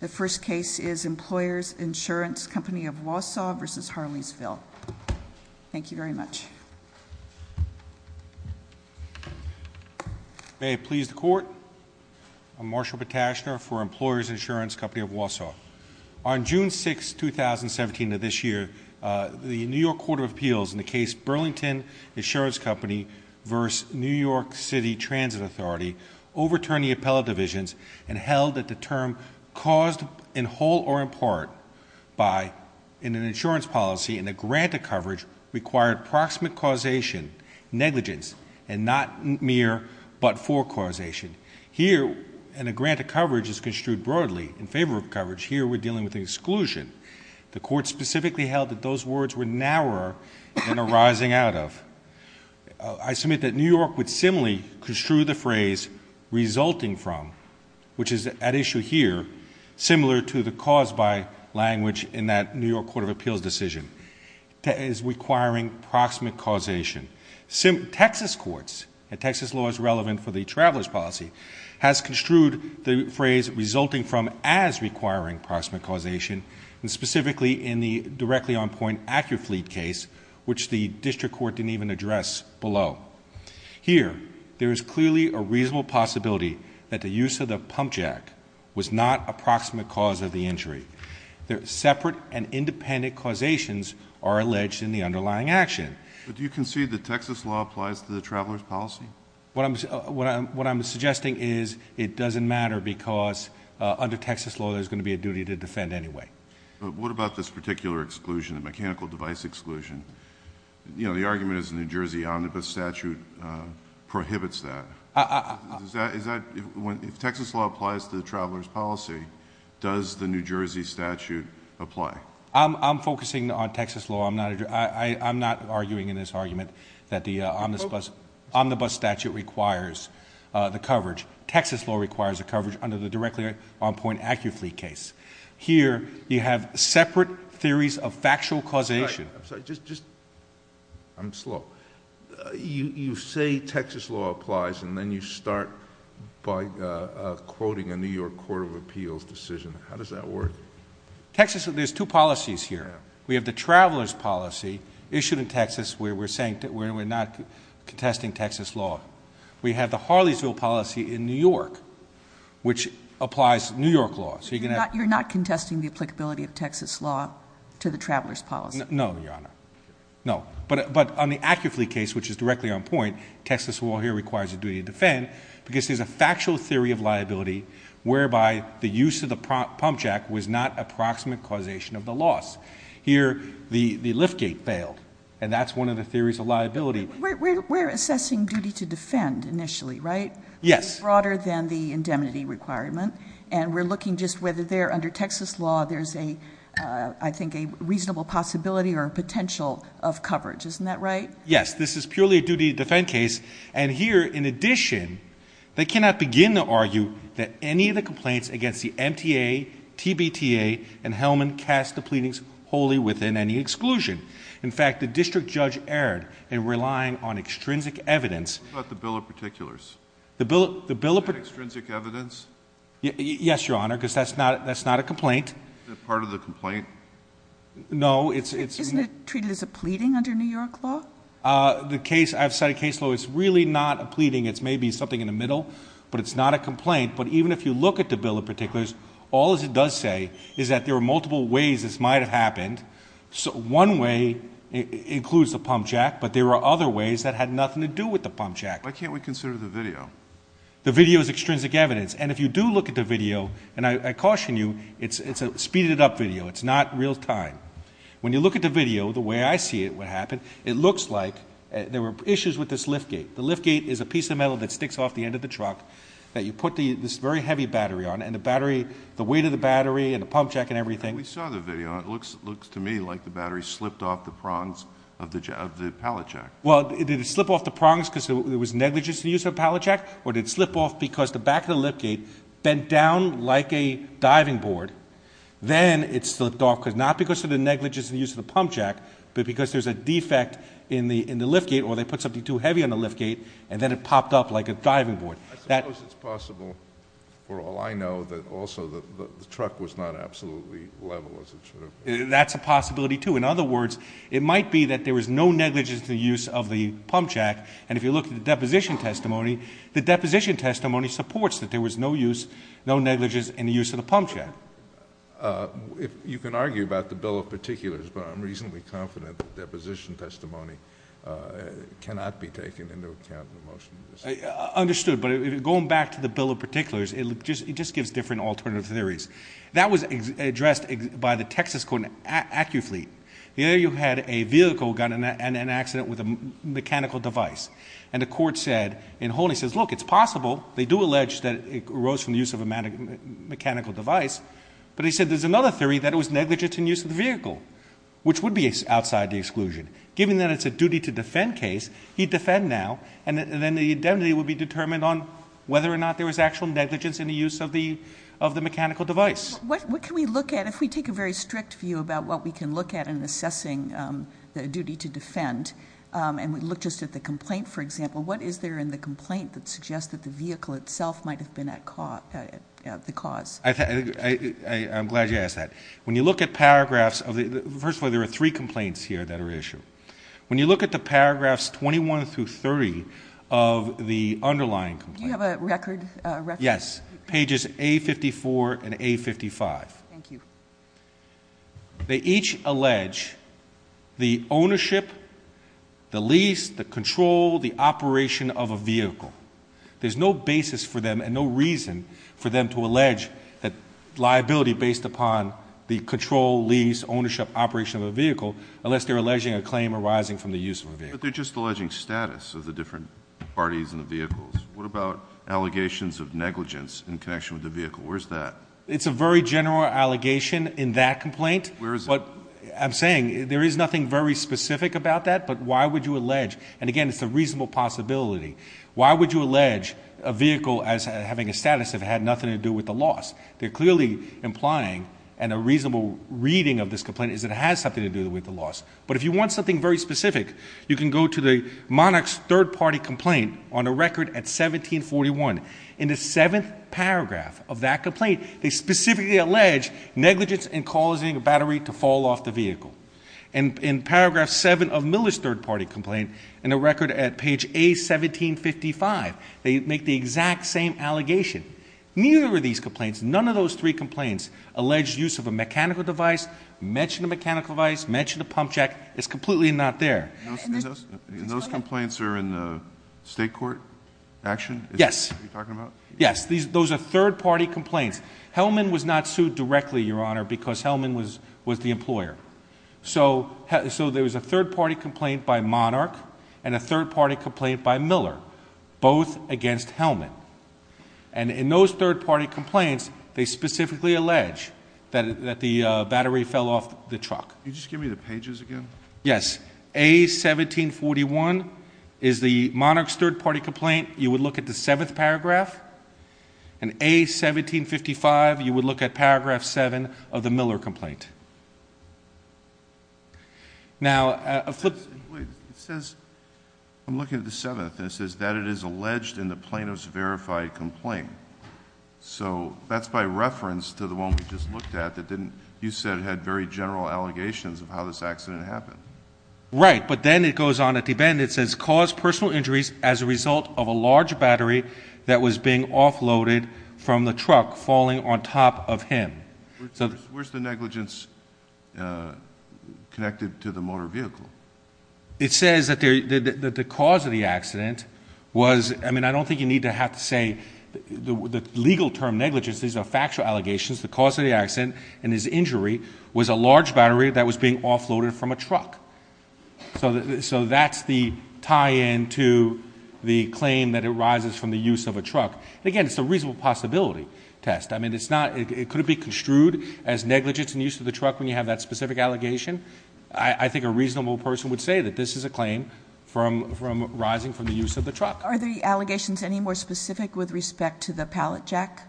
The first case is Employers Insurance Company of Wausau v. Harleysville. Thank you very much. May it please the court. I'm Marshall Patashner for Employers Insurance Company of Wausau. On June 6, 2017 of this year, the New York Court of Appeals in the case Burlington Insurance Company v. New York City Transit Authority overturned the appellate divisions and held that the term caused in whole or in part by an insurance policy and a grant of coverage required proximate causation, negligence, and not mere but for causation. Here, and a grant of coverage is construed broadly in favor of coverage, here we're dealing with exclusion. The court specifically held that those words were narrower than arising out of. I submit that New York would similarly construe the phrase resulting from, which is at issue here, similar to the caused by language in that New York Court of Appeals decision, as requiring proximate causation. Texas courts, and Texas law is relevant for the traveler's policy, has construed the phrase resulting from as requiring proximate causation, and specifically in the directly on point AccuFleet case, which the district court didn't even address below. Here, there is clearly a reasonable possibility that the use of the pump jack was not a proximate cause of the injury. Separate and independent causations are alleged in the underlying action. But do you concede that Texas law applies to the traveler's policy? What I'm suggesting is it doesn't matter because under Texas law there's going to be a duty to defend anyway. But what about this particular exclusion, the mechanical device exclusion? You know, the argument is the New Jersey omnibus statute prohibits that. If Texas law applies to the traveler's policy, does the New Jersey statute apply? I'm focusing on Texas law. I'm not arguing in this argument that the omnibus statute requires the coverage. Texas law requires a coverage under the directly on point AccuFleet case. Here, you have separate theories of factual causation. I'm sorry, just, I'm slow. You say Texas law applies and then you start by quoting a New York Court of Appeals decision. How does that work? Texas, there's two policies here. We shouldn't tax this. We're saying that we're not contesting Texas law. We have the Harleysville policy in New York, which applies to New York law. So you're not contesting the applicability of Texas law to the traveler's policy? No, Your Honor. No. But on the AccuFleet case, which is directly on point, Texas law here requires a duty to defend because there's a factual theory of liability whereby the use of the pump jack was not approximate causation of the loss. Here, the and that's one of the theories of liability. We're assessing duty to defend initially, right? Yes. It's broader than the indemnity requirement. And we're looking just whether there, under Texas law, there's a, I think, a reasonable possibility or potential of coverage. Isn't that right? Yes. This is purely a duty to defend case. And here, in addition, they cannot begin to argue that any of the complaints against the MTA, TBTA, and Hellman cast the pleadings wholly within any In fact, the district judge erred in relying on extrinsic evidence. What about the Bill of Particulars? Is that extrinsic evidence? Yes, Your Honor, because that's not a complaint. Is it part of the complaint? No. Isn't it treated as a pleading under New York law? The case, I've cited case law, it's really not a pleading. It's maybe something in the middle, but it's not a complaint. But even if you look at the Bill of Particulars, all it does say is that there are multiple ways this might have happened. So one way includes the pump jack, but there are other ways that had nothing to do with the pump jack. Why can't we consider the video? The video is extrinsic evidence. And if you do look at the video, and I caution you, it's a speeded up video. It's not real time. When you look at the video, the way I see it, what happened, it looks like there were issues with this lift gate. The lift gate is a piece of metal that sticks off the end of the truck that you put this very heavy battery on. And the weight of the battery and the pump jack and everything. We saw the video. It looks to me like the battery slipped off the prongs of the pallet jack. Well, did it slip off the prongs because there was negligence in the use of a pallet jack, or did it slip off because the back of the lift gate bent down like a diving board? Then it slipped off because not because of the negligence in the use of the pump jack, but because there's a defect in the lift gate, or they put something too heavy on the lift gate, and then it popped up like a diving board. I suppose it's possible for all I know that also the truck was not absolutely level as it should have been. That's a possibility too. In other words, it might be that there was no negligence in the use of the pump jack. And if you look at the deposition testimony, the deposition testimony supports that there was no use, no negligence in the use of the pump jack. You can argue about the bill of particulars, but I'm reasonably confident that the deposition testimony cannot be taken into account in the motion. Understood. But going back to the bill of particulars, it just gives different alternative theories. That was addressed by the Texas court in AccuFleet. There you had a vehicle got in an accident with a mechanical device. And the court said, in whole, he says, look, it's possible. They do allege that it arose from the use of a mechanical device. But he said, there's another theory that it was negligence in use of the vehicle, which would be outside the exclusion. Given that it's a duty to defend case, he'd defend now. And then the indemnity would be determined on whether or not there was actual negligence in the use of the mechanical device. What can we look at? If we take a very strict view about what we can look at in assessing the duty to defend, and we look just at the complaint, for example, what is there in the complaint that suggests that the vehicle itself might've been at the cause? I'm glad you asked that. When you look at paragraphs of the... First of all, there are three complaints here that are issued. When you look at the paragraphs 21 through 30 of the underlying complaint... Do you have a record? Yes. Pages A54 and A55. Thank you. They each allege the ownership, the lease, the control, the operation of a vehicle. There's no basis for them and no reason for them to allege that liability based upon the control, lease, ownership, operation of a vehicle, unless they're alleging a claim arising from the use of a vehicle. But they're just alleging status of the different parties in the vehicles. What about allegations of negligence in connection with the vehicle? Where's that? It's a very general allegation in that complaint. Where is it? I'm saying there is nothing very specific about that, but why would you allege? And again, it's a reasonable possibility. Why would you allege a vehicle as having a status if it had nothing to do with the loss? They're clearly implying, and a reasonable reading of this complaint is it has something to do with the loss. But if you want something very specific, you can go to the monarch's third-party complaint on a record at 1741. In the seventh paragraph of that complaint, they specifically allege negligence in causing a battery to fall off the vehicle. And in paragraph seven of Miller's third-party complaint, in a record at page A1755, they make the exact same allegation. Neither of these complaints, none of those three complaints, allege use of a mechanical device, mention a mechanical device, mention a pump jack, it's completely not there. And those complaints are in the state court action? Yes. Are you talking about? Yes. Those are third-party complaints. Hellman was not sued directly, Your Honor, because Hellman was the employer. So there was a third-party complaint by Monarch and a third-party complaint by Miller, both against Hellman. And in those third-party complaints, they specifically allege that the battery fell off the truck. Can you just give me the pages again? Yes. A1741 is the monarch's third-party complaint. You would look at the seventh paragraph. And A1755, you would look at paragraph seven of the Miller complaint. Wait. It says, I'm looking at the seventh, and it says that it is alleged in the Plano's verified complaint. So that's by reference to the one we just looked at that didn't, you said it had very general allegations of how this accident happened. Right. But then it goes on at the end. It says, cause personal injuries as a result of a large battery that was being offloaded from the truck falling on top of him. Where's the negligence? It's connected to the motor vehicle. It says that the cause of the accident was, I mean, I don't think you need to have to say the legal term negligence. These are factual allegations. The cause of the accident and his injury was a large battery that was being offloaded from a truck. So that's the tie-in to the claim that arises from the use of a truck. And again, it's a reasonable possibility test. I mean, it's not, it couldn't be construed as negligence and use of the truck when you have that specific allegation. I think a reasonable person would say that this is a claim from, from rising from the use of the truck. Are the allegations any more specific with respect to the pallet jack?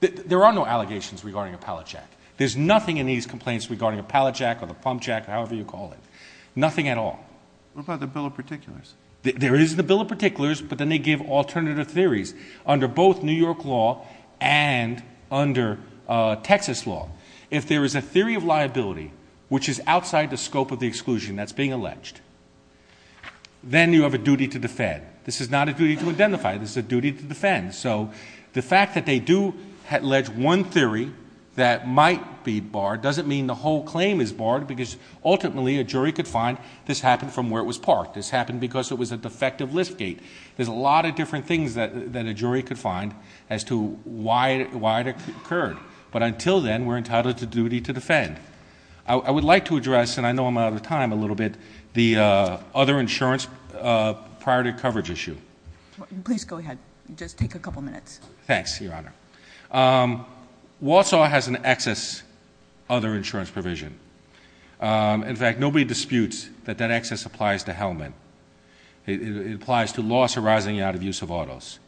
There are no allegations regarding a pallet jack. There's nothing in these complaints regarding a pallet jack or the pump jack, however you call it, nothing at all. What about the bill of particulars? There is the bill of particulars, but then they give alternative theories under both New York law and under Texas law. If there is a theory of liability, which is outside the scope of the exclusion that's being alleged, then you have a duty to defend. This is not a duty to identify. This is a duty to defend. So the fact that they do have alleged one theory that might be barred doesn't mean the whole claim is barred because ultimately a jury could find this happened from where it was parked. This happened because it was a defective lift gate. There's a lot of different things that a jury could find as to why it occurred. But until then, we're entitled to duty to defend. I would like to address, and I know I'm out of time a little bit, the other insurance priority coverage issue. Please go ahead. Just take a couple minutes. Thanks, Your Honor. Walsall has an excess other insurance provision. In fact, nobody disputes that that excess applies to Hellman. It applies to loss arising out of use of autos.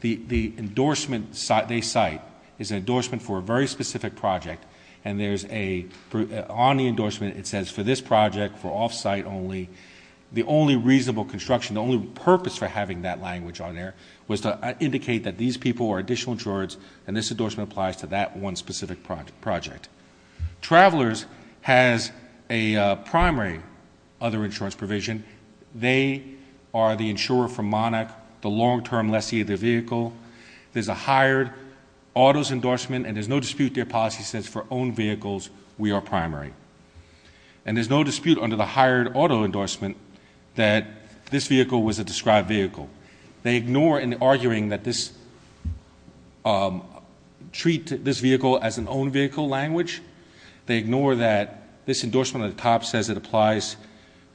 The endorsement they cite is an endorsement for a very specific project, and on the endorsement it says for this project, for off-site only, the only reasonable construction, the only purpose for having that language on there was to indicate that these people are additional insurers, and this endorsement applies to that one specific project. Travelers has a primary other insurance provision. They are the insurer for Monarch, the long-term lessee of the vehicle. There's a hired autos endorsement, and there's no dispute their policy says for owned vehicles, we are primary. And there's no dispute under the hired auto endorsement that this vehicle was a described vehicle. They ignore in the arguing that this treat this vehicle as an owned vehicle language. They ignore that this endorsement at the top says it applies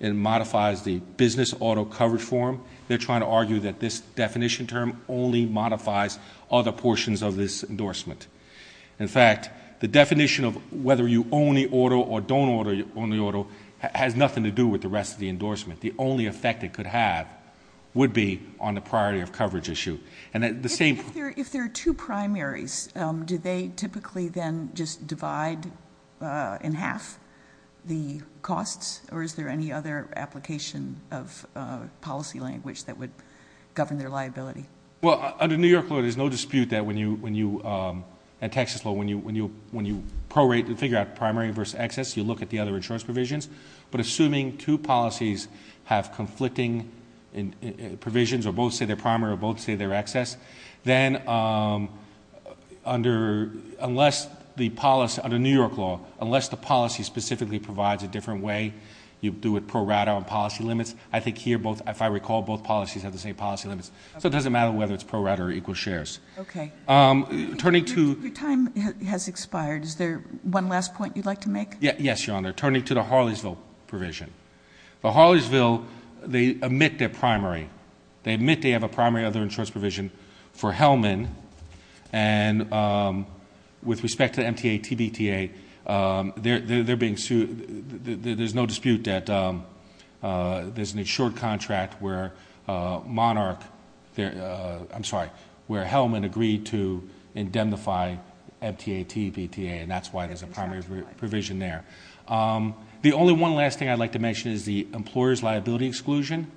and modifies the business auto coverage form. They're trying to argue that this definition term only modifies other portions of this endorsement. In fact, the definition of whether you own the auto or don't own the auto has nothing to do with the rest of the endorsement. The only effect it could have would be on the priority of coverage issue. If there are two primaries, do they typically then just divide in half the costs? Or is there any other application of policy language that would govern their liability? Well, under New York law, there's no dispute that when you, at Texas law, when you prorate and figure out primary versus excess, you look at the other insurance provisions. But assuming two policies have conflicting provisions, or both say they're primary or both say they're excess, then under New York law, unless the policy specifically provides a different way, you do it prorate on policy limits. I think here, if I recall, both policies have the same policy limits. So it doesn't matter whether it's prorate or equal shares. Okay. Turning to- Your time has expired. Yes, Your Honor. They're turning to the Harleysville provision. The Harleysville, they admit their primary. They admit they have a primary other insurance provision for Hellman. And with respect to MTA, TBTA, there's no dispute that there's an insured contract where Monarch, I'm sorry, where Hellman agreed to indemnify MTA, TBTA, and that's why there's a primary provision there. The only one last thing I'd like to mention is the employer's liability exclusion.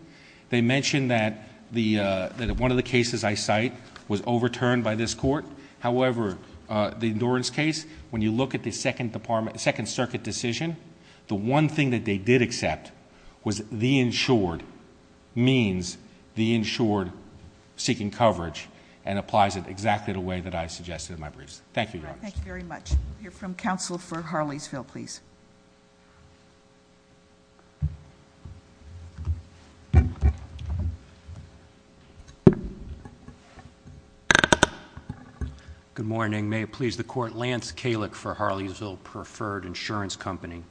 They mentioned that one of the cases I cite was overturned by this court. However, the endurance case, when you look at the Second Circuit decision, the one thing that they did accept was the insured means the insured seeking coverage and applies it exactly the way that I suggested in my briefs. Thank you, Your Honor. Thank you very much. We'll hear from counsel for Harleysville, please. Good morning. May it please the court, Lance Kalick for Harleysville Preferred Insurance Company.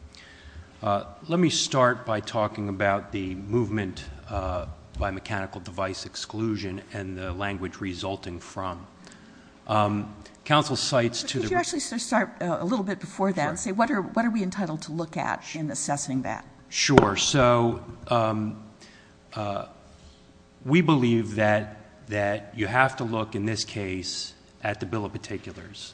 Let me start by talking about the movement by mechanical device exclusion and the language resulting from. Counsel cites to the- Could you actually start a little bit before that and say what are we entitled to look at in assessing that? Sure, so we believe that you have to look in this case at the bill of particulars.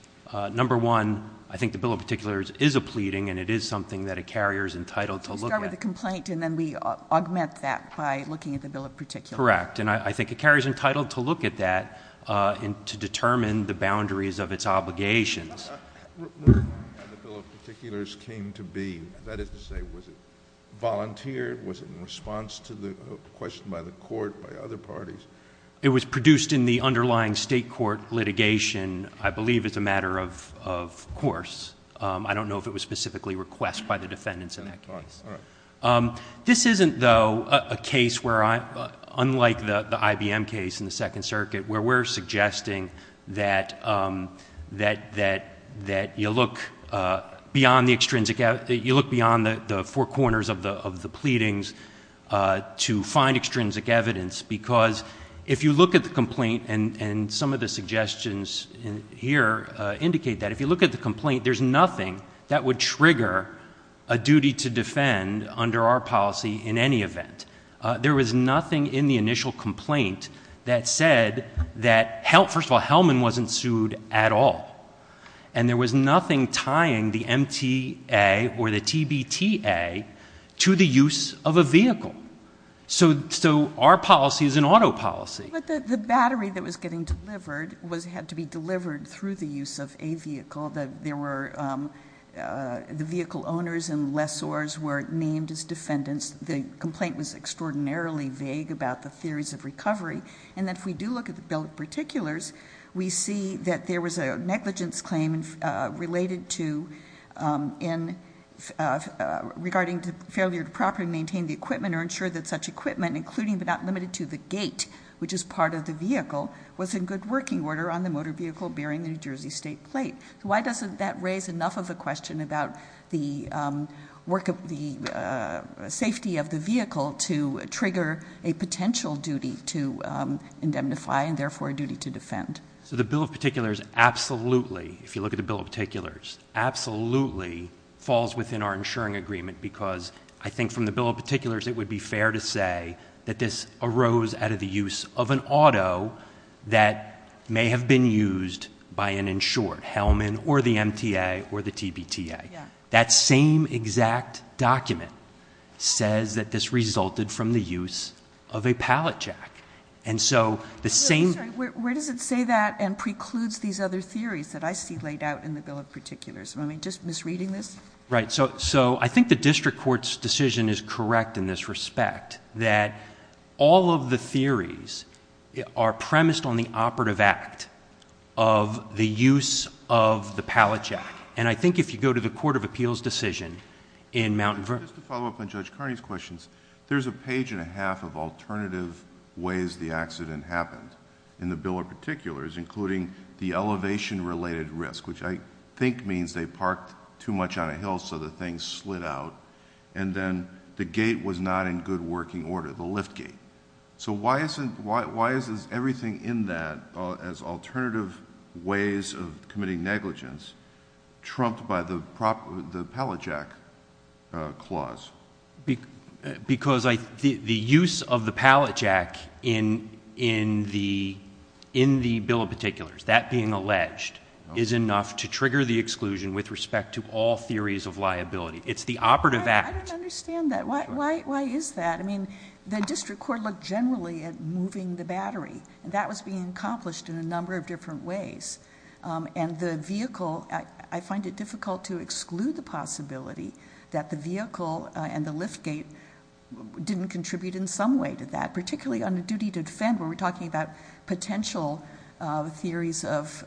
Number one, I think the bill of particulars is a pleading and it is something that a carrier is entitled to look at. You start with a complaint and then we augment that by looking at the bill of particulars. Correct, and I think a carrier's entitled to look at that and to determine the boundaries of its obligations. What the bill of particulars came to be, that is to say, was it volunteered, was it in response to the question by the court, by other parties? It was produced in the underlying state court litigation, I believe, as a matter of course. I don't know if it was specifically requested by the defendants in that case. This isn't, though, a case where I, unlike the IBM case in the Second Circuit, where we're suggesting that you look beyond the extrinsic, you look beyond the four corners of the pleadings to find extrinsic evidence. Because if you look at the complaint, and some of the suggestions here indicate that, if you look at the complaint, there's nothing that would trigger a duty to defend under our policy in any event. There was nothing in the initial complaint that said that, first of all, Hellman wasn't sued at all. And there was nothing tying the MTA or the TBTA to the use of a vehicle. So our policy is an auto policy. But the battery that was getting delivered had to be delivered through the use of a vehicle. The vehicle owners and lessors were named as defendants. The complaint was extraordinarily vague about the theories of recovery. And if we do look at the bill of particulars, we see that there was a negligence claim related to, in regarding to failure to properly maintain the equipment or ensure that such equipment, including but not limited to the gate. Which is part of the vehicle, was in good working order on the motor vehicle bearing the New Jersey State plate. Why doesn't that raise enough of a question about the safety of the vehicle to trigger a potential duty to indemnify and therefore a duty to defend? So the bill of particulars absolutely, if you look at the bill of particulars, absolutely falls within our insuring agreement. Because I think from the bill of particulars, it would be fair to say that this arose out of the use of an auto that may have been used by an insured, Hellman or the MTA or the TBTA. That same exact document says that this resulted from the use of a pallet jack. And so the same- I'm sorry, where does it say that and precludes these other theories that I see laid out in the bill of particulars? Am I just misreading this? Right, so I think the district court's decision is correct in this respect. That all of the theories are premised on the operative act of the use of the pallet jack. And I think if you go to the Court of Appeals decision in Mount Vernon- Just to follow up on Judge Carney's questions. There's a page and a half of alternative ways the accident happened in the bill of particulars, including the elevation related risk, which I think means they parked too much on a hill so the thing slid out. And then the gate was not in good working order, the lift gate. So why is everything in that as alternative ways of committing negligence, trumped by the pallet jack clause? Because the use of the pallet jack in the bill of particulars, that being alleged, is enough to trigger the exclusion with respect to all theories of liability. It's the operative act. I don't understand that. Why is that? I mean, the district court looked generally at moving the battery. That was being accomplished in a number of different ways. And the vehicle, I find it difficult to exclude the possibility that the vehicle and the lift gate didn't contribute in some way to that, particularly on a duty to defend where we're talking about potential theories of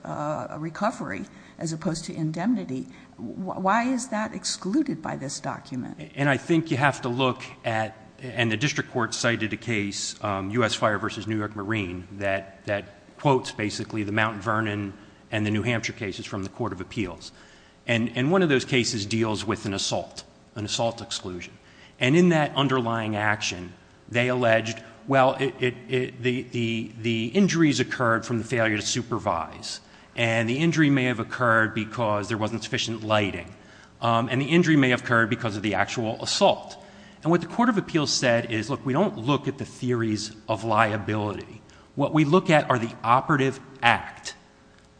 recovery as opposed to indemnity. Why is that excluded by this document? And I think you have to look at, and the district court cited a case, US Fire versus New York Marine, that quotes basically the Mount Vernon and the New Hampshire cases from the Court of Appeals. And one of those cases deals with an assault, an assault exclusion. And in that underlying action, they alleged, well, the injuries occurred from the failure to supervise. And the injury may have occurred because there wasn't sufficient lighting. And the injury may have occurred because of the actual assault. And what the Court of Appeals said is, look, we don't look at the theories of liability. What we look at are the operative act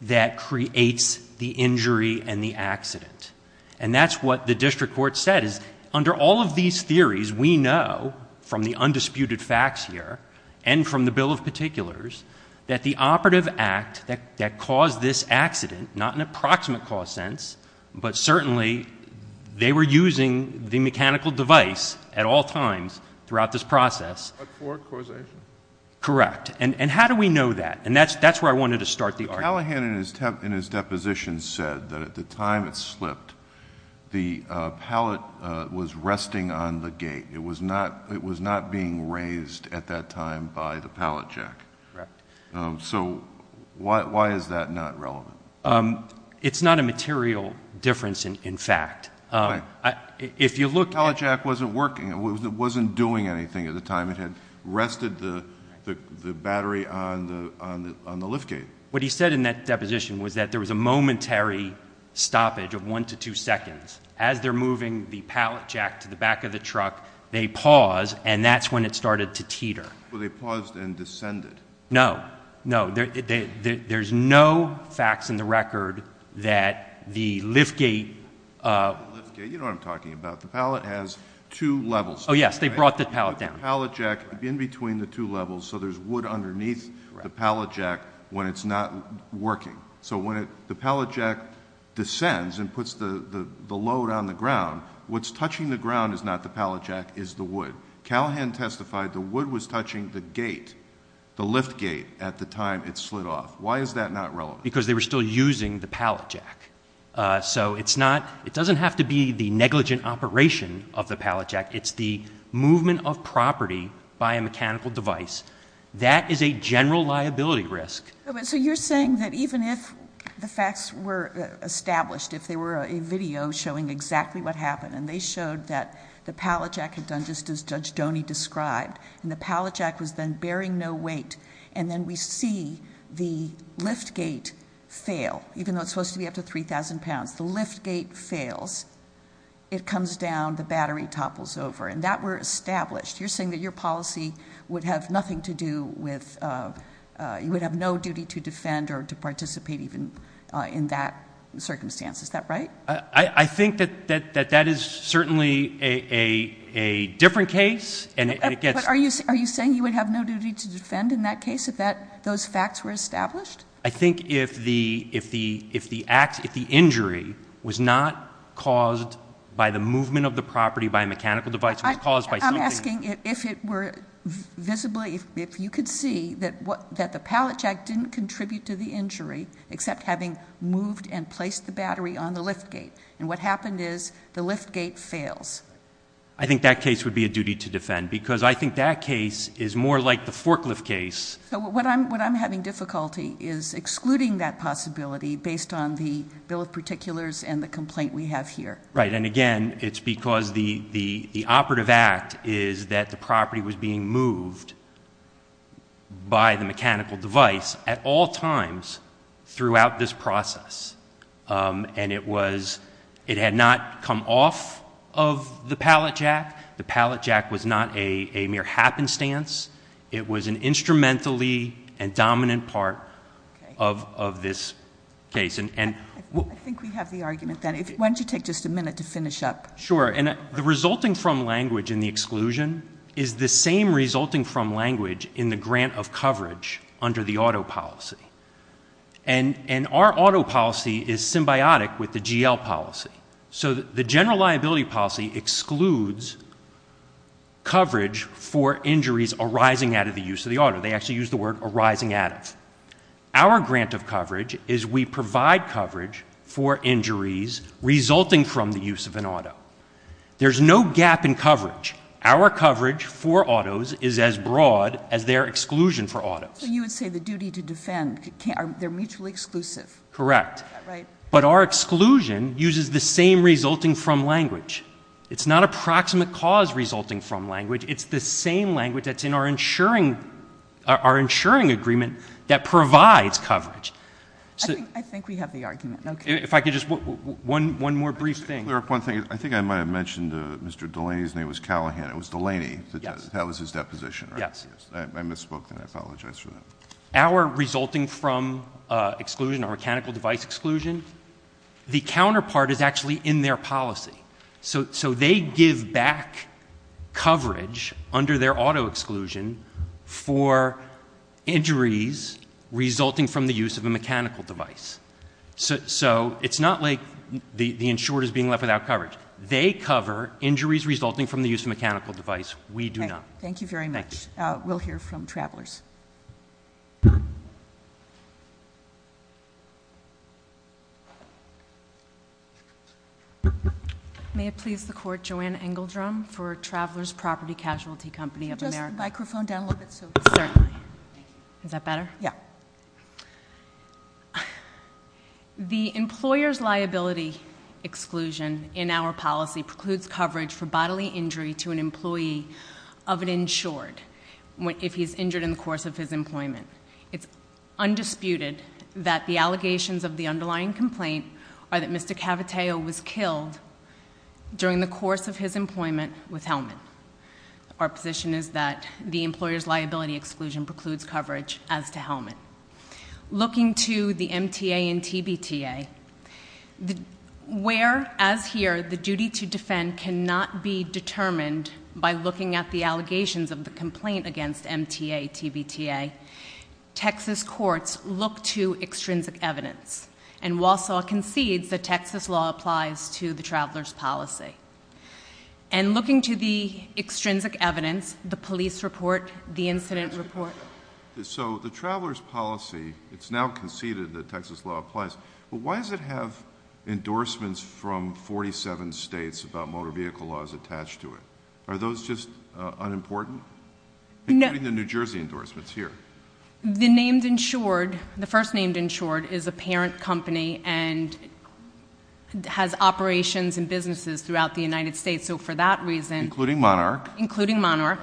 that creates the injury and the accident. And that's what the district court said, is under all of these theories, we know, from the undisputed facts here and from the bill of particulars, that the operative act that caused this accident, not in a proximate cause sense, but certainly they were using the mechanical device at all times throughout this process. But for causation? Correct. And how do we know that? And that's where I wanted to start the argument. Callahan in his deposition said that at the time it slipped, the pallet was resting on the gate. It was not being raised at that time by the pallet jack. Correct. So why is that not relevant? It's not a material difference in fact. Why? If you look at- At the time it had rested the battery on the lift gate. What he said in that deposition was that there was a momentary stoppage of one to two seconds. As they're moving the pallet jack to the back of the truck, they pause, and that's when it started to teeter. Well, they paused and descended. No, no, there's no facts in the record that the lift gate- The lift gate, you know what I'm talking about. The pallet has two levels. Oh yes, they brought the pallet down. The pallet jack in between the two levels, so there's wood underneath the pallet jack when it's not working. So when the pallet jack descends and puts the load on the ground, what's touching the ground is not the pallet jack, it's the wood. Callahan testified the wood was touching the gate, the lift gate, at the time it slid off. Why is that not relevant? Because they were still using the pallet jack. So it's not, it doesn't have to be the negligent operation of the pallet jack. It's the movement of property by a mechanical device. That is a general liability risk. So you're saying that even if the facts were established, if there were a video showing exactly what happened, and they showed that the pallet jack had done just as Judge Doney described, and the pallet jack was then bearing no weight. And then we see the lift gate fail, even though it's supposed to be up to 3,000 pounds. The lift gate fails. It comes down, the battery topples over. And that were established. You're saying that your policy would have nothing to do with, you would have no duty to defend or to participate even in that circumstance, is that right? I think that that is certainly a different case. Are you saying you would have no duty to defend in that case if those facts were established? I think if the injury was not caused by the movement of the property by a mechanical device, it was caused by something. I'm asking if it were visibly, if you could see that the pallet jack didn't contribute to the injury, except having moved and placed the battery on the lift gate, and what happened is the lift gate fails. I think that case would be a duty to defend, because I think that case is more like the forklift case. So what I'm having difficulty is excluding that possibility based on the bill of particulars and the complaint we have here. Right, and again, it's because the operative act is that the property was being moved by the mechanical device at all times throughout this process. And it was, it had not come off of the pallet jack. The pallet jack was not a mere happenstance. It was an instrumentally and dominant part of this case. And- I think we have the argument then. Why don't you take just a minute to finish up? Sure, and the resulting from language in the exclusion is the same resulting from language in the grant of coverage under the auto policy. And our auto policy is symbiotic with the GL policy. So the general liability policy excludes coverage for injuries arising out of the use of the auto. They actually use the word arising out of. Our grant of coverage is we provide coverage for injuries resulting from the use of an auto. There's no gap in coverage. Our coverage for autos is as broad as their exclusion for autos. So you would say the duty to defend, they're mutually exclusive. Correct. But our exclusion uses the same resulting from language. It's not approximate cause resulting from language. It's the same language that's in our insuring agreement that provides coverage. I think we have the argument, okay. If I could just, one more brief thing. One thing, I think I might have mentioned Mr. Delaney's name was Callahan, it was Delaney that was his deposition, right? Yes, yes. I misspoke and I apologize for that. Our resulting from exclusion or mechanical device exclusion, the counterpart is actually in their policy. So they give back coverage under their auto exclusion for injuries resulting from the use of a mechanical device. So it's not like the insured is being left without coverage. They cover injuries resulting from the use of a mechanical device. We do not. Thank you very much. We'll hear from Travelers. May it please the court, Joanne Engeldrum for Travelers Property Casualty Company of America. Just microphone down a little bit so. Certainly. Thank you. Is that better? Yeah. The employer's liability exclusion in our policy precludes coverage for bodily injury to an employee of an insured, if he's injured in the course of his employment. It's undisputed that the allegations of the underlying complaint are that Mr. Cavateo was killed during the course of his employment with helmet. Our position is that the employer's liability exclusion precludes coverage as to helmet. Looking to the MTA and TBTA, where, as here, the duty to defend cannot be determined by looking at the allegations of the complaint against MTA, TBTA. Texas courts look to extrinsic evidence. And Walsall concedes that Texas law applies to the traveler's policy. And looking to the extrinsic evidence, the police report, the incident report. So the traveler's policy, it's now conceded that Texas law applies. But why does it have endorsements from 47 states about motor vehicle laws attached to it? Are those just unimportant? Including the New Jersey endorsements here. The named insured, the first named insured, is a parent company and has operations and businesses throughout the United States. So for that reason- Including Monarch. Including Monarch.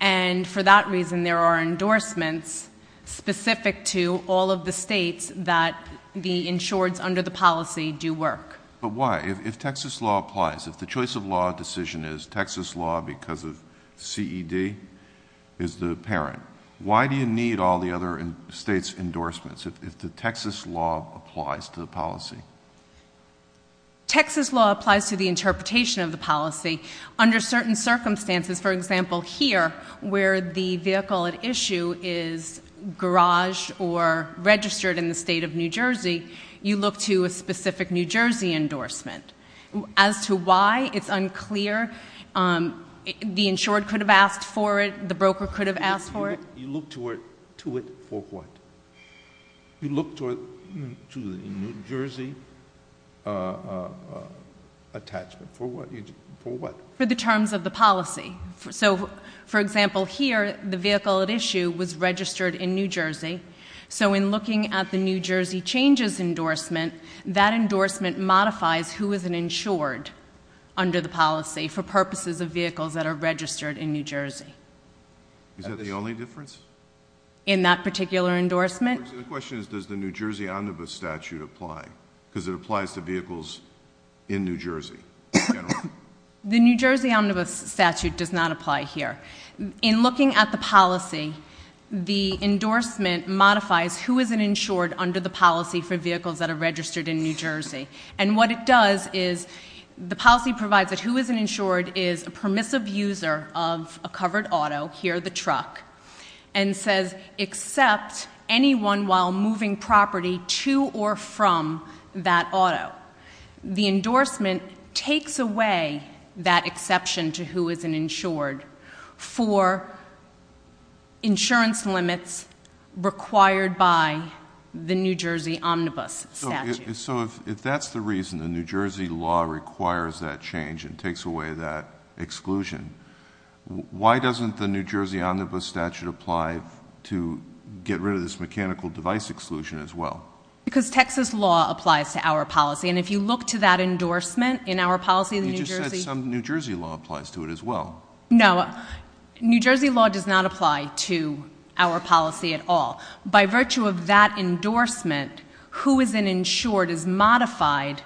And for that reason, there are endorsements specific to all of the states that the insureds under the policy do work. But why? If Texas law applies, if the choice of law decision is Texas law because of CED, is the parent. Why do you need all the other states' endorsements if the Texas law applies to the policy? Texas law applies to the interpretation of the policy. Under certain circumstances, for example here, where the vehicle at issue is garage or registered in the state of New Jersey, you look to a specific New Jersey endorsement. As to why, it's unclear. The insured could have asked for it. The broker could have asked for it. You look to it for what? You look to the New Jersey attachment for what? For the terms of the policy. So for example here, the vehicle at issue was registered in New Jersey. So in looking at the New Jersey changes endorsement, that endorsement modifies who is an insured under the policy for purposes of vehicles that are registered in New Jersey. Is that the only difference? In that particular endorsement? The question is, does the New Jersey statute apply? because it applies to vehicles in New Jersey. General? The New Jersey Omnibus Statute does not apply here. In looking at the policy, the endorsement modifies who is an insured under the policy for vehicles that are registered in New Jersey. And what it does is, the policy provides that who is an insured is a permissive user of a covered auto, here the truck, and says accept anyone while moving property to or from that auto. The endorsement takes away that exception to who is an insured for insurance limits required by the New Jersey Omnibus Statute. So if that's the reason the New Jersey law requires that change and takes away that exclusion, why doesn't the New Jersey Omnibus Statute apply to get rid of this mechanical device exclusion as well? Because Texas law applies to our policy, and if you look to that endorsement in our policy in New Jersey- You just said some New Jersey law applies to it as well. No, New Jersey law does not apply to our policy at all. By virtue of that endorsement, who is an insured is modified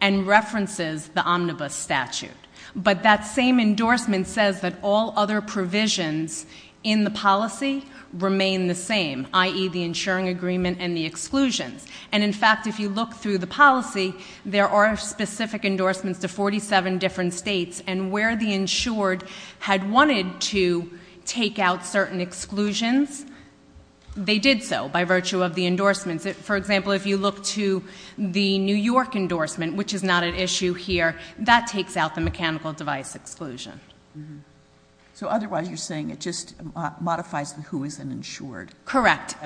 and references the Omnibus Statute. But that same endorsement says that all other provisions in the policy remain the same, i.e. the insuring agreement and the exclusions. And in fact, if you look through the policy, there are specific endorsements to 47 different states. And where the insured had wanted to take out certain exclusions, they did so by virtue of the endorsements. For example, if you look to the New York endorsement, which is not an issue here, that takes out the mechanical device exclusion. So otherwise, you're saying it just modifies the who is an insured. Correct,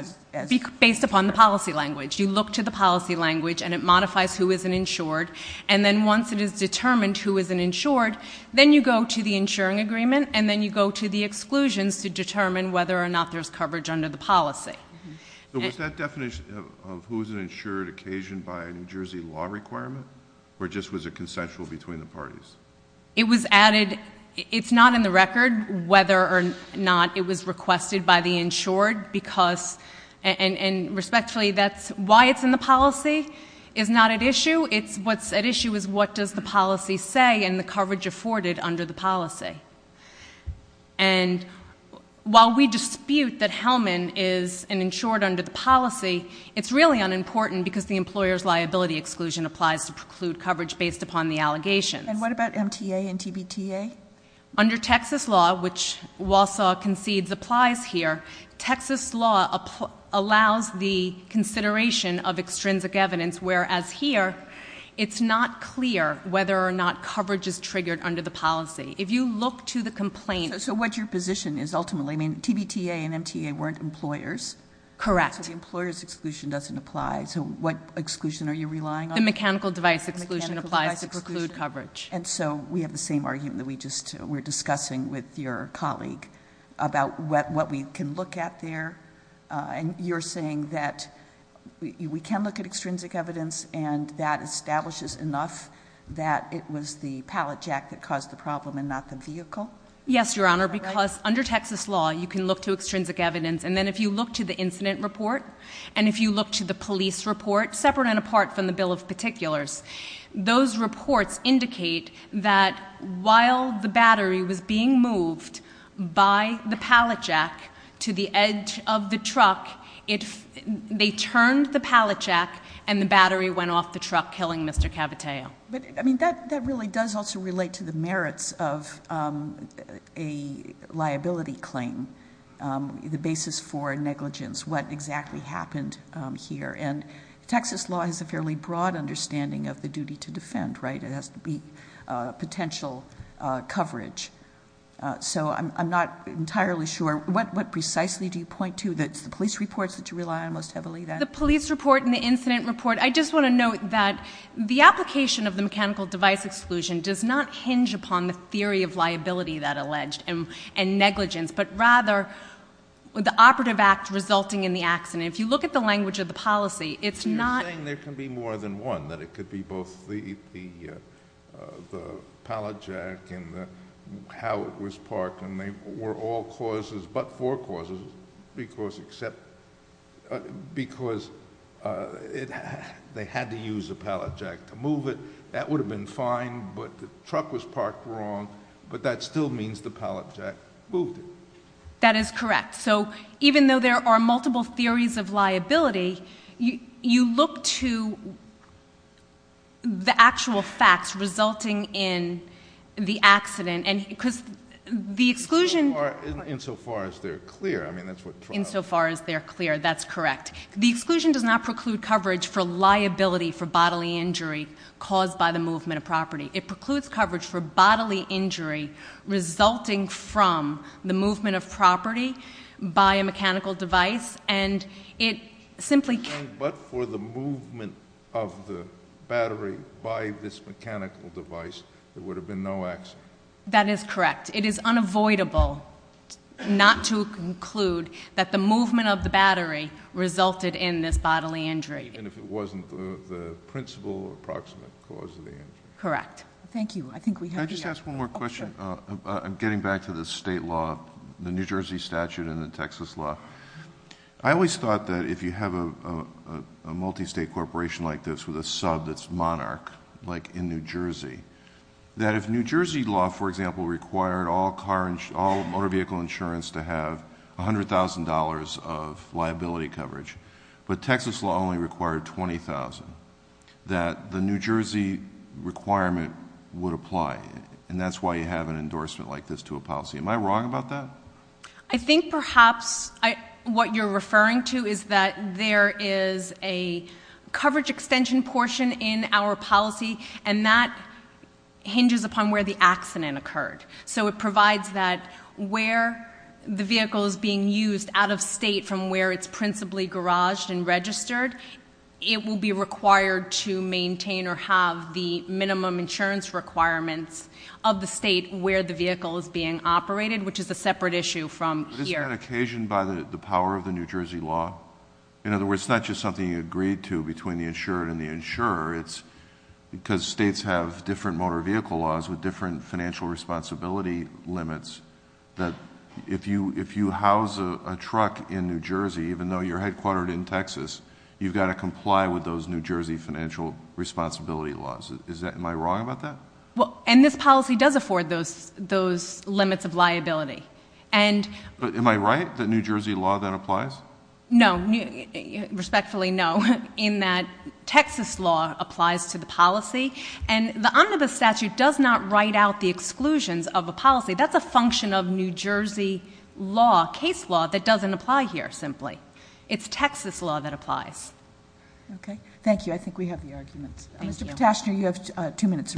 based upon the policy language. You look to the policy language and it modifies who is an insured. And then once it is determined who is an insured, then you go to the insuring agreement and then you go to the exclusions to determine whether or not there's coverage under the policy. So was that definition of who is an insured occasioned by a New Jersey law requirement? Or just was it consensual between the parties? It was added, it's not in the record whether or not it was requested by the insured because, and respectfully, that's why it's in the policy is not at issue. It's what's at issue is what does the policy say and the coverage afforded under the policy. And while we dispute that Hellman is an insured under the policy, it's really unimportant because the employer's liability exclusion applies to preclude coverage based upon the allegations. And what about MTA and TBTA? Under Texas law, which Walsall concedes applies here, Texas law allows the consideration of extrinsic evidence, whereas here, it's not clear whether or not coverage is triggered under the policy. If you look to the complaint- So what your position is ultimately, I mean, TBTA and MTA weren't employers. Correct. So the employer's exclusion doesn't apply, so what exclusion are you relying on? The mechanical device exclusion applies to preclude coverage. And so we have the same argument that we just were discussing with your colleague about what we can look at there. And you're saying that we can look at extrinsic evidence and that establishes enough that it was the pallet jack that caused the problem and not the vehicle? Yes, Your Honor, because under Texas law, you can look to extrinsic evidence. And then if you look to the incident report, and if you look to the police report, separate and apart from the bill of particulars, those reports indicate that while the battery was being moved by the pallet jack to the edge of the truck, they turned the pallet jack and the battery went off the truck, killing Mr. Caviteo. But, I mean, that really does also relate to the merits of a liability claim. The basis for negligence, what exactly happened here. And Texas law has a fairly broad understanding of the duty to defend, right? It has to be potential coverage. So I'm not entirely sure. What precisely do you point to? That's the police reports that you rely on most heavily? The police report and the incident report. I just want to note that the application of the mechanical device exclusion does not hinge upon the theory of liability that alleged and negligence, but rather the operative act resulting in the accident. If you look at the language of the policy, it's not- You're saying there can be more than one, that it could be both the pallet jack and how it was parked, and they were all causes, but four causes, because they had to use a pallet jack to move it, that would have been fine, but the truck was parked wrong. But that still means the pallet jack moved it. That is correct. So even though there are multiple theories of liability, you look to the actual facts resulting in the accident. And because the exclusion- Insofar as they're clear, I mean, that's what- Insofar as they're clear, that's correct. The exclusion does not preclude coverage for liability for bodily injury caused by the movement of property. It precludes coverage for bodily injury resulting from the movement of property by a mechanical device. And it simply- But for the movement of the battery by this mechanical device, there would have been no accident. That is correct. It is unavoidable not to conclude that the movement of the battery resulted in this bodily injury. Even if it wasn't the principal approximate cause of the injury. Correct. Thank you. I think we have- Can I just ask one more question? I'm getting back to the state law, the New Jersey statute and the Texas law. I always thought that if you have a multi-state corporation like this with a sub that's monarch, like in New Jersey. That if New Jersey law, for example, required all motor vehicle insurance to have $100,000 of liability coverage. But Texas law only required 20,000. That the New Jersey requirement would apply, and that's why you have an endorsement like this to a policy. Am I wrong about that? I think perhaps what you're referring to is that there is a coverage extension portion in our policy. And that hinges upon where the accident occurred. So it provides that where the vehicle is being used out of state from where it's principally garaged and registered. It will be required to maintain or have the minimum insurance requirements of the state where the vehicle is being operated, which is a separate issue from here. But isn't that occasioned by the power of the New Jersey law? In other words, it's not just something you agreed to between the insurer and the insurer. It's because states have different motor vehicle laws with different financial responsibility limits. That if you house a truck in New Jersey, even though you're headquartered in Texas, you've got to comply with those New Jersey financial responsibility laws. Am I wrong about that? Well, and this policy does afford those limits of liability. And- But am I right that New Jersey law then applies? No, respectfully no, in that Texas law applies to the policy. And the omnibus statute does not write out the exclusions of a policy. That's a function of New Jersey law, case law, that doesn't apply here, simply. It's Texas law that applies. Okay, thank you. I think we have the arguments. Mr. Patashner, you have two minutes.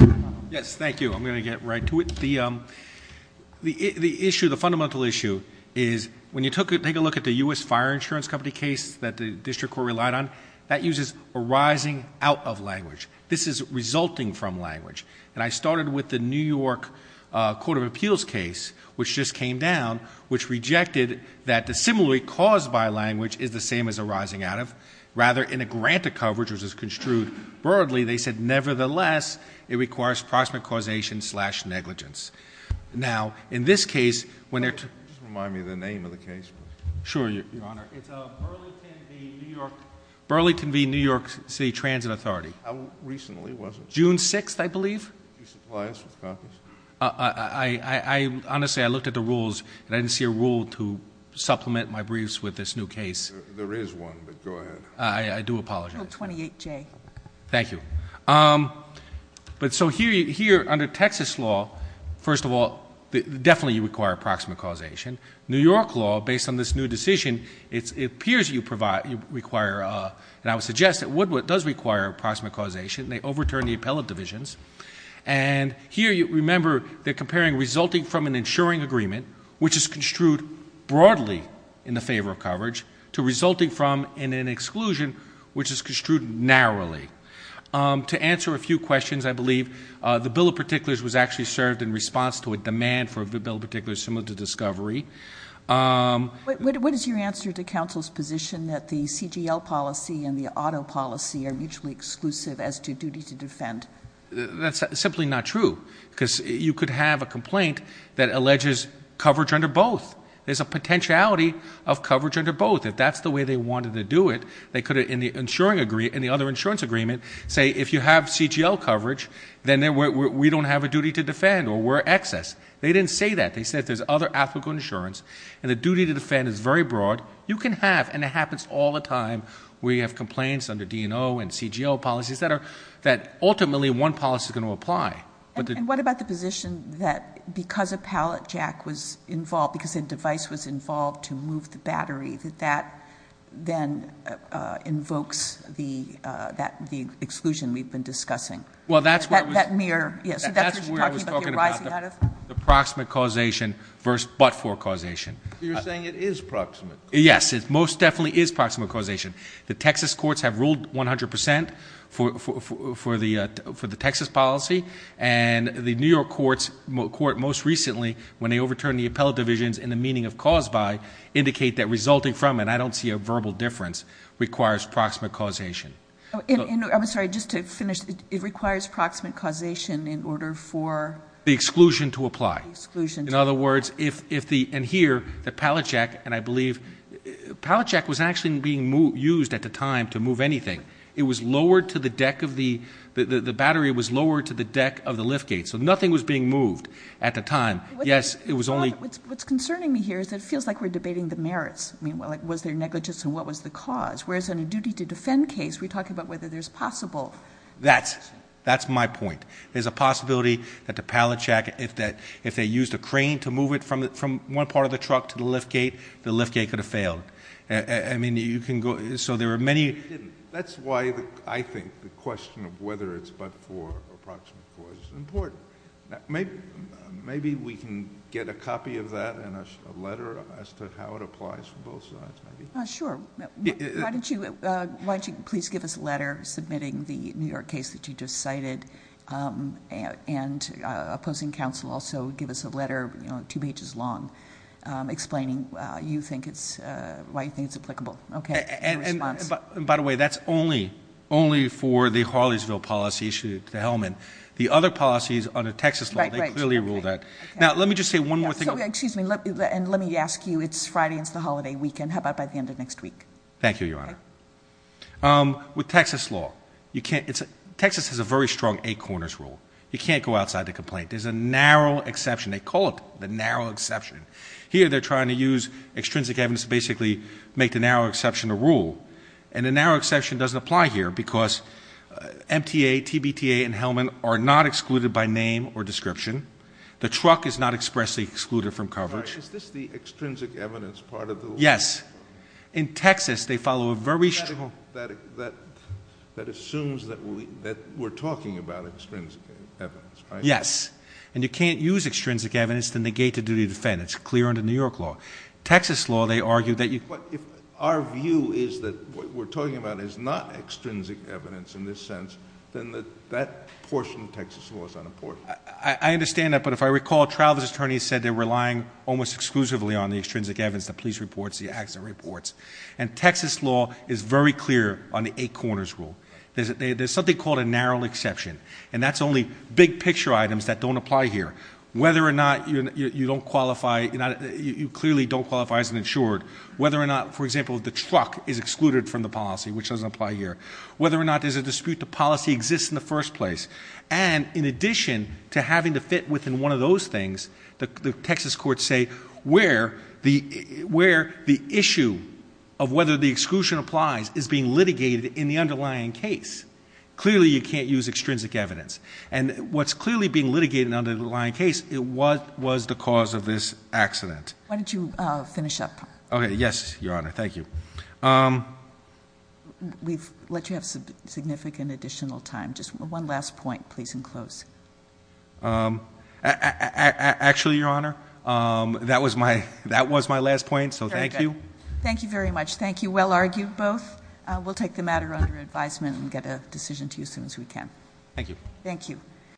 Yes, thank you. I'm going to get right to it. The fundamental issue is, when you take a look at the US Fire Insurance Company case that the district court relied on, that uses a rising out of language. This is resulting from language. And I started with the New York Court of Appeals case, which just came down, which rejected that the similarity caused by language is the same as a rising out of. Rather, in a grant of coverage, which is construed broadly, they said, nevertheless, it requires proximate causation slash negligence. Now, in this case, when they're- Just remind me of the name of the case, please. Sure, Your Honor. It's Burlington v. New York City Transit Authority. How recently was it? June 6th, I believe. Do you supply us with copies? Honestly, I looked at the rules, and I didn't see a rule to supplement my briefs with this new case. There is one, but go ahead. I do apologize. Bill 28J. Thank you. But so here, under Texas law, first of all, definitely you require approximate causation. New York law, based on this new decision, it appears you require, and I would suggest that Woodward does require approximate causation, and they overturned the appellate divisions. And here, you remember, they're comparing resulting from an insuring agreement, which is construed broadly in the favor of coverage, to resulting from in an exclusion, which is construed narrowly. To answer a few questions, I believe, the bill of particulars was actually served in response to a demand for a bill of particulars similar to discovery. What is your answer to counsel's position that the CGL policy and the auto policy are mutually exclusive as to duty to defend? That's simply not true, because you could have a complaint that alleges coverage under both. There's a potentiality of coverage under both. If that's the way they wanted to do it, they could, in the other insurance agreement, say if you have CGL coverage, then we don't have a duty to defend or we're excess. They didn't say that. They said there's other applicable insurance, and the duty to defend is very broad. You can have, and it happens all the time, where you have complaints under DNO and CGL policies that ultimately, one policy's going to apply. But the- And what about the position that because a pallet jack was involved, because a device was involved to move the battery, that that then invokes the exclusion we've been discussing? Well, that's what was- That mere, yes, so that's what you're talking about, you're rising out of? The proximate causation versus but-for causation. You're saying it is proximate? Yes, it most definitely is proximate causation. The Texas courts have ruled 100% for the Texas policy, and the New York court most recently, when they overturned the appellate divisions in the meaning of cause by, indicate that resulting from, and I don't see a verbal difference, requires proximate causation. I'm sorry, just to finish, it requires proximate causation in order for- The exclusion to apply. The exclusion to apply. In other words, if the, and here, the pallet jack, and I believe, pallet jack was actually being used at the time to move anything. It was lowered to the deck of the, the battery was lowered to the deck of the lift gate. So nothing was being moved at the time. Yes, it was only- What's concerning me here is that it feels like we're debating the merits. I mean, was there negligence and what was the cause? Whereas in a duty to defend case, we talk about whether there's possible- That's my point. There's a possibility that the pallet jack, if they used a crane to move it from one part of the truck to the lift gate, the lift gate could have failed. I mean, you can go, so there are many- That's why I think the question of whether it's but for approximate cause is important. Maybe we can get a copy of that and a letter as to how it applies for both sides, maybe? Sure, why don't you please give us a letter submitting the New York case that you just cited. And opposing counsel also give us a letter, two pages long, explaining why you think it's applicable. Okay, in response. And by the way, that's only for the Harleysville policy issue, the Hellman. The other policies under Texas law, they clearly rule that. Now, let me just say one more thing. So, excuse me, and let me ask you, it's Friday, it's the holiday weekend, how about by the end of next week? Thank you, Your Honor. With Texas law, Texas has a very strong eight corners rule. You can't go outside the complaint. There's a narrow exception. They call it the narrow exception. Here, they're trying to use extrinsic evidence to basically make the narrow exception a rule. And the narrow exception doesn't apply here because MTA, TBTA, and Hellman are not excluded by name or description. The truck is not expressly excluded from coverage. Is this the extrinsic evidence part of the law? Yes. In Texas, they follow a very strong- That assumes that we're talking about extrinsic evidence, right? Yes. And you can't use extrinsic evidence to negate a duty of defense. It's clear under New York law. Texas law, they argue that you- But if our view is that what we're talking about is not extrinsic evidence in this sense, then that portion of Texas law is unimportant. I understand that, but if I recall, Travis's attorney said they're relying almost exclusively on the extrinsic evidence, the police reports, the accident reports. And Texas law is very clear on the eight corners rule. There's something called a narrow exception, and that's only big picture items that don't apply here. Whether or not you don't qualify, you clearly don't qualify as an insured. Whether or not, for example, the truck is excluded from the policy, which doesn't apply here. Whether or not there's a dispute, the policy exists in the first place. And in addition to having to fit within one of those things, the Texas courts say, where the issue of whether the exclusion applies is being litigated in the underlying case. Clearly, you can't use extrinsic evidence. And what's clearly being litigated in the underlying case, what was the cause of this accident? Why don't you finish up? Okay, yes, Your Honor, thank you. We've let you have significant additional time. Just one last point, please, and close. Actually, Your Honor, that was my last point, so thank you. Thank you very much. Thank you. Well argued, both. We'll take the matter under advisement and get a decision to you as soon as we can. Thank you. Thank you.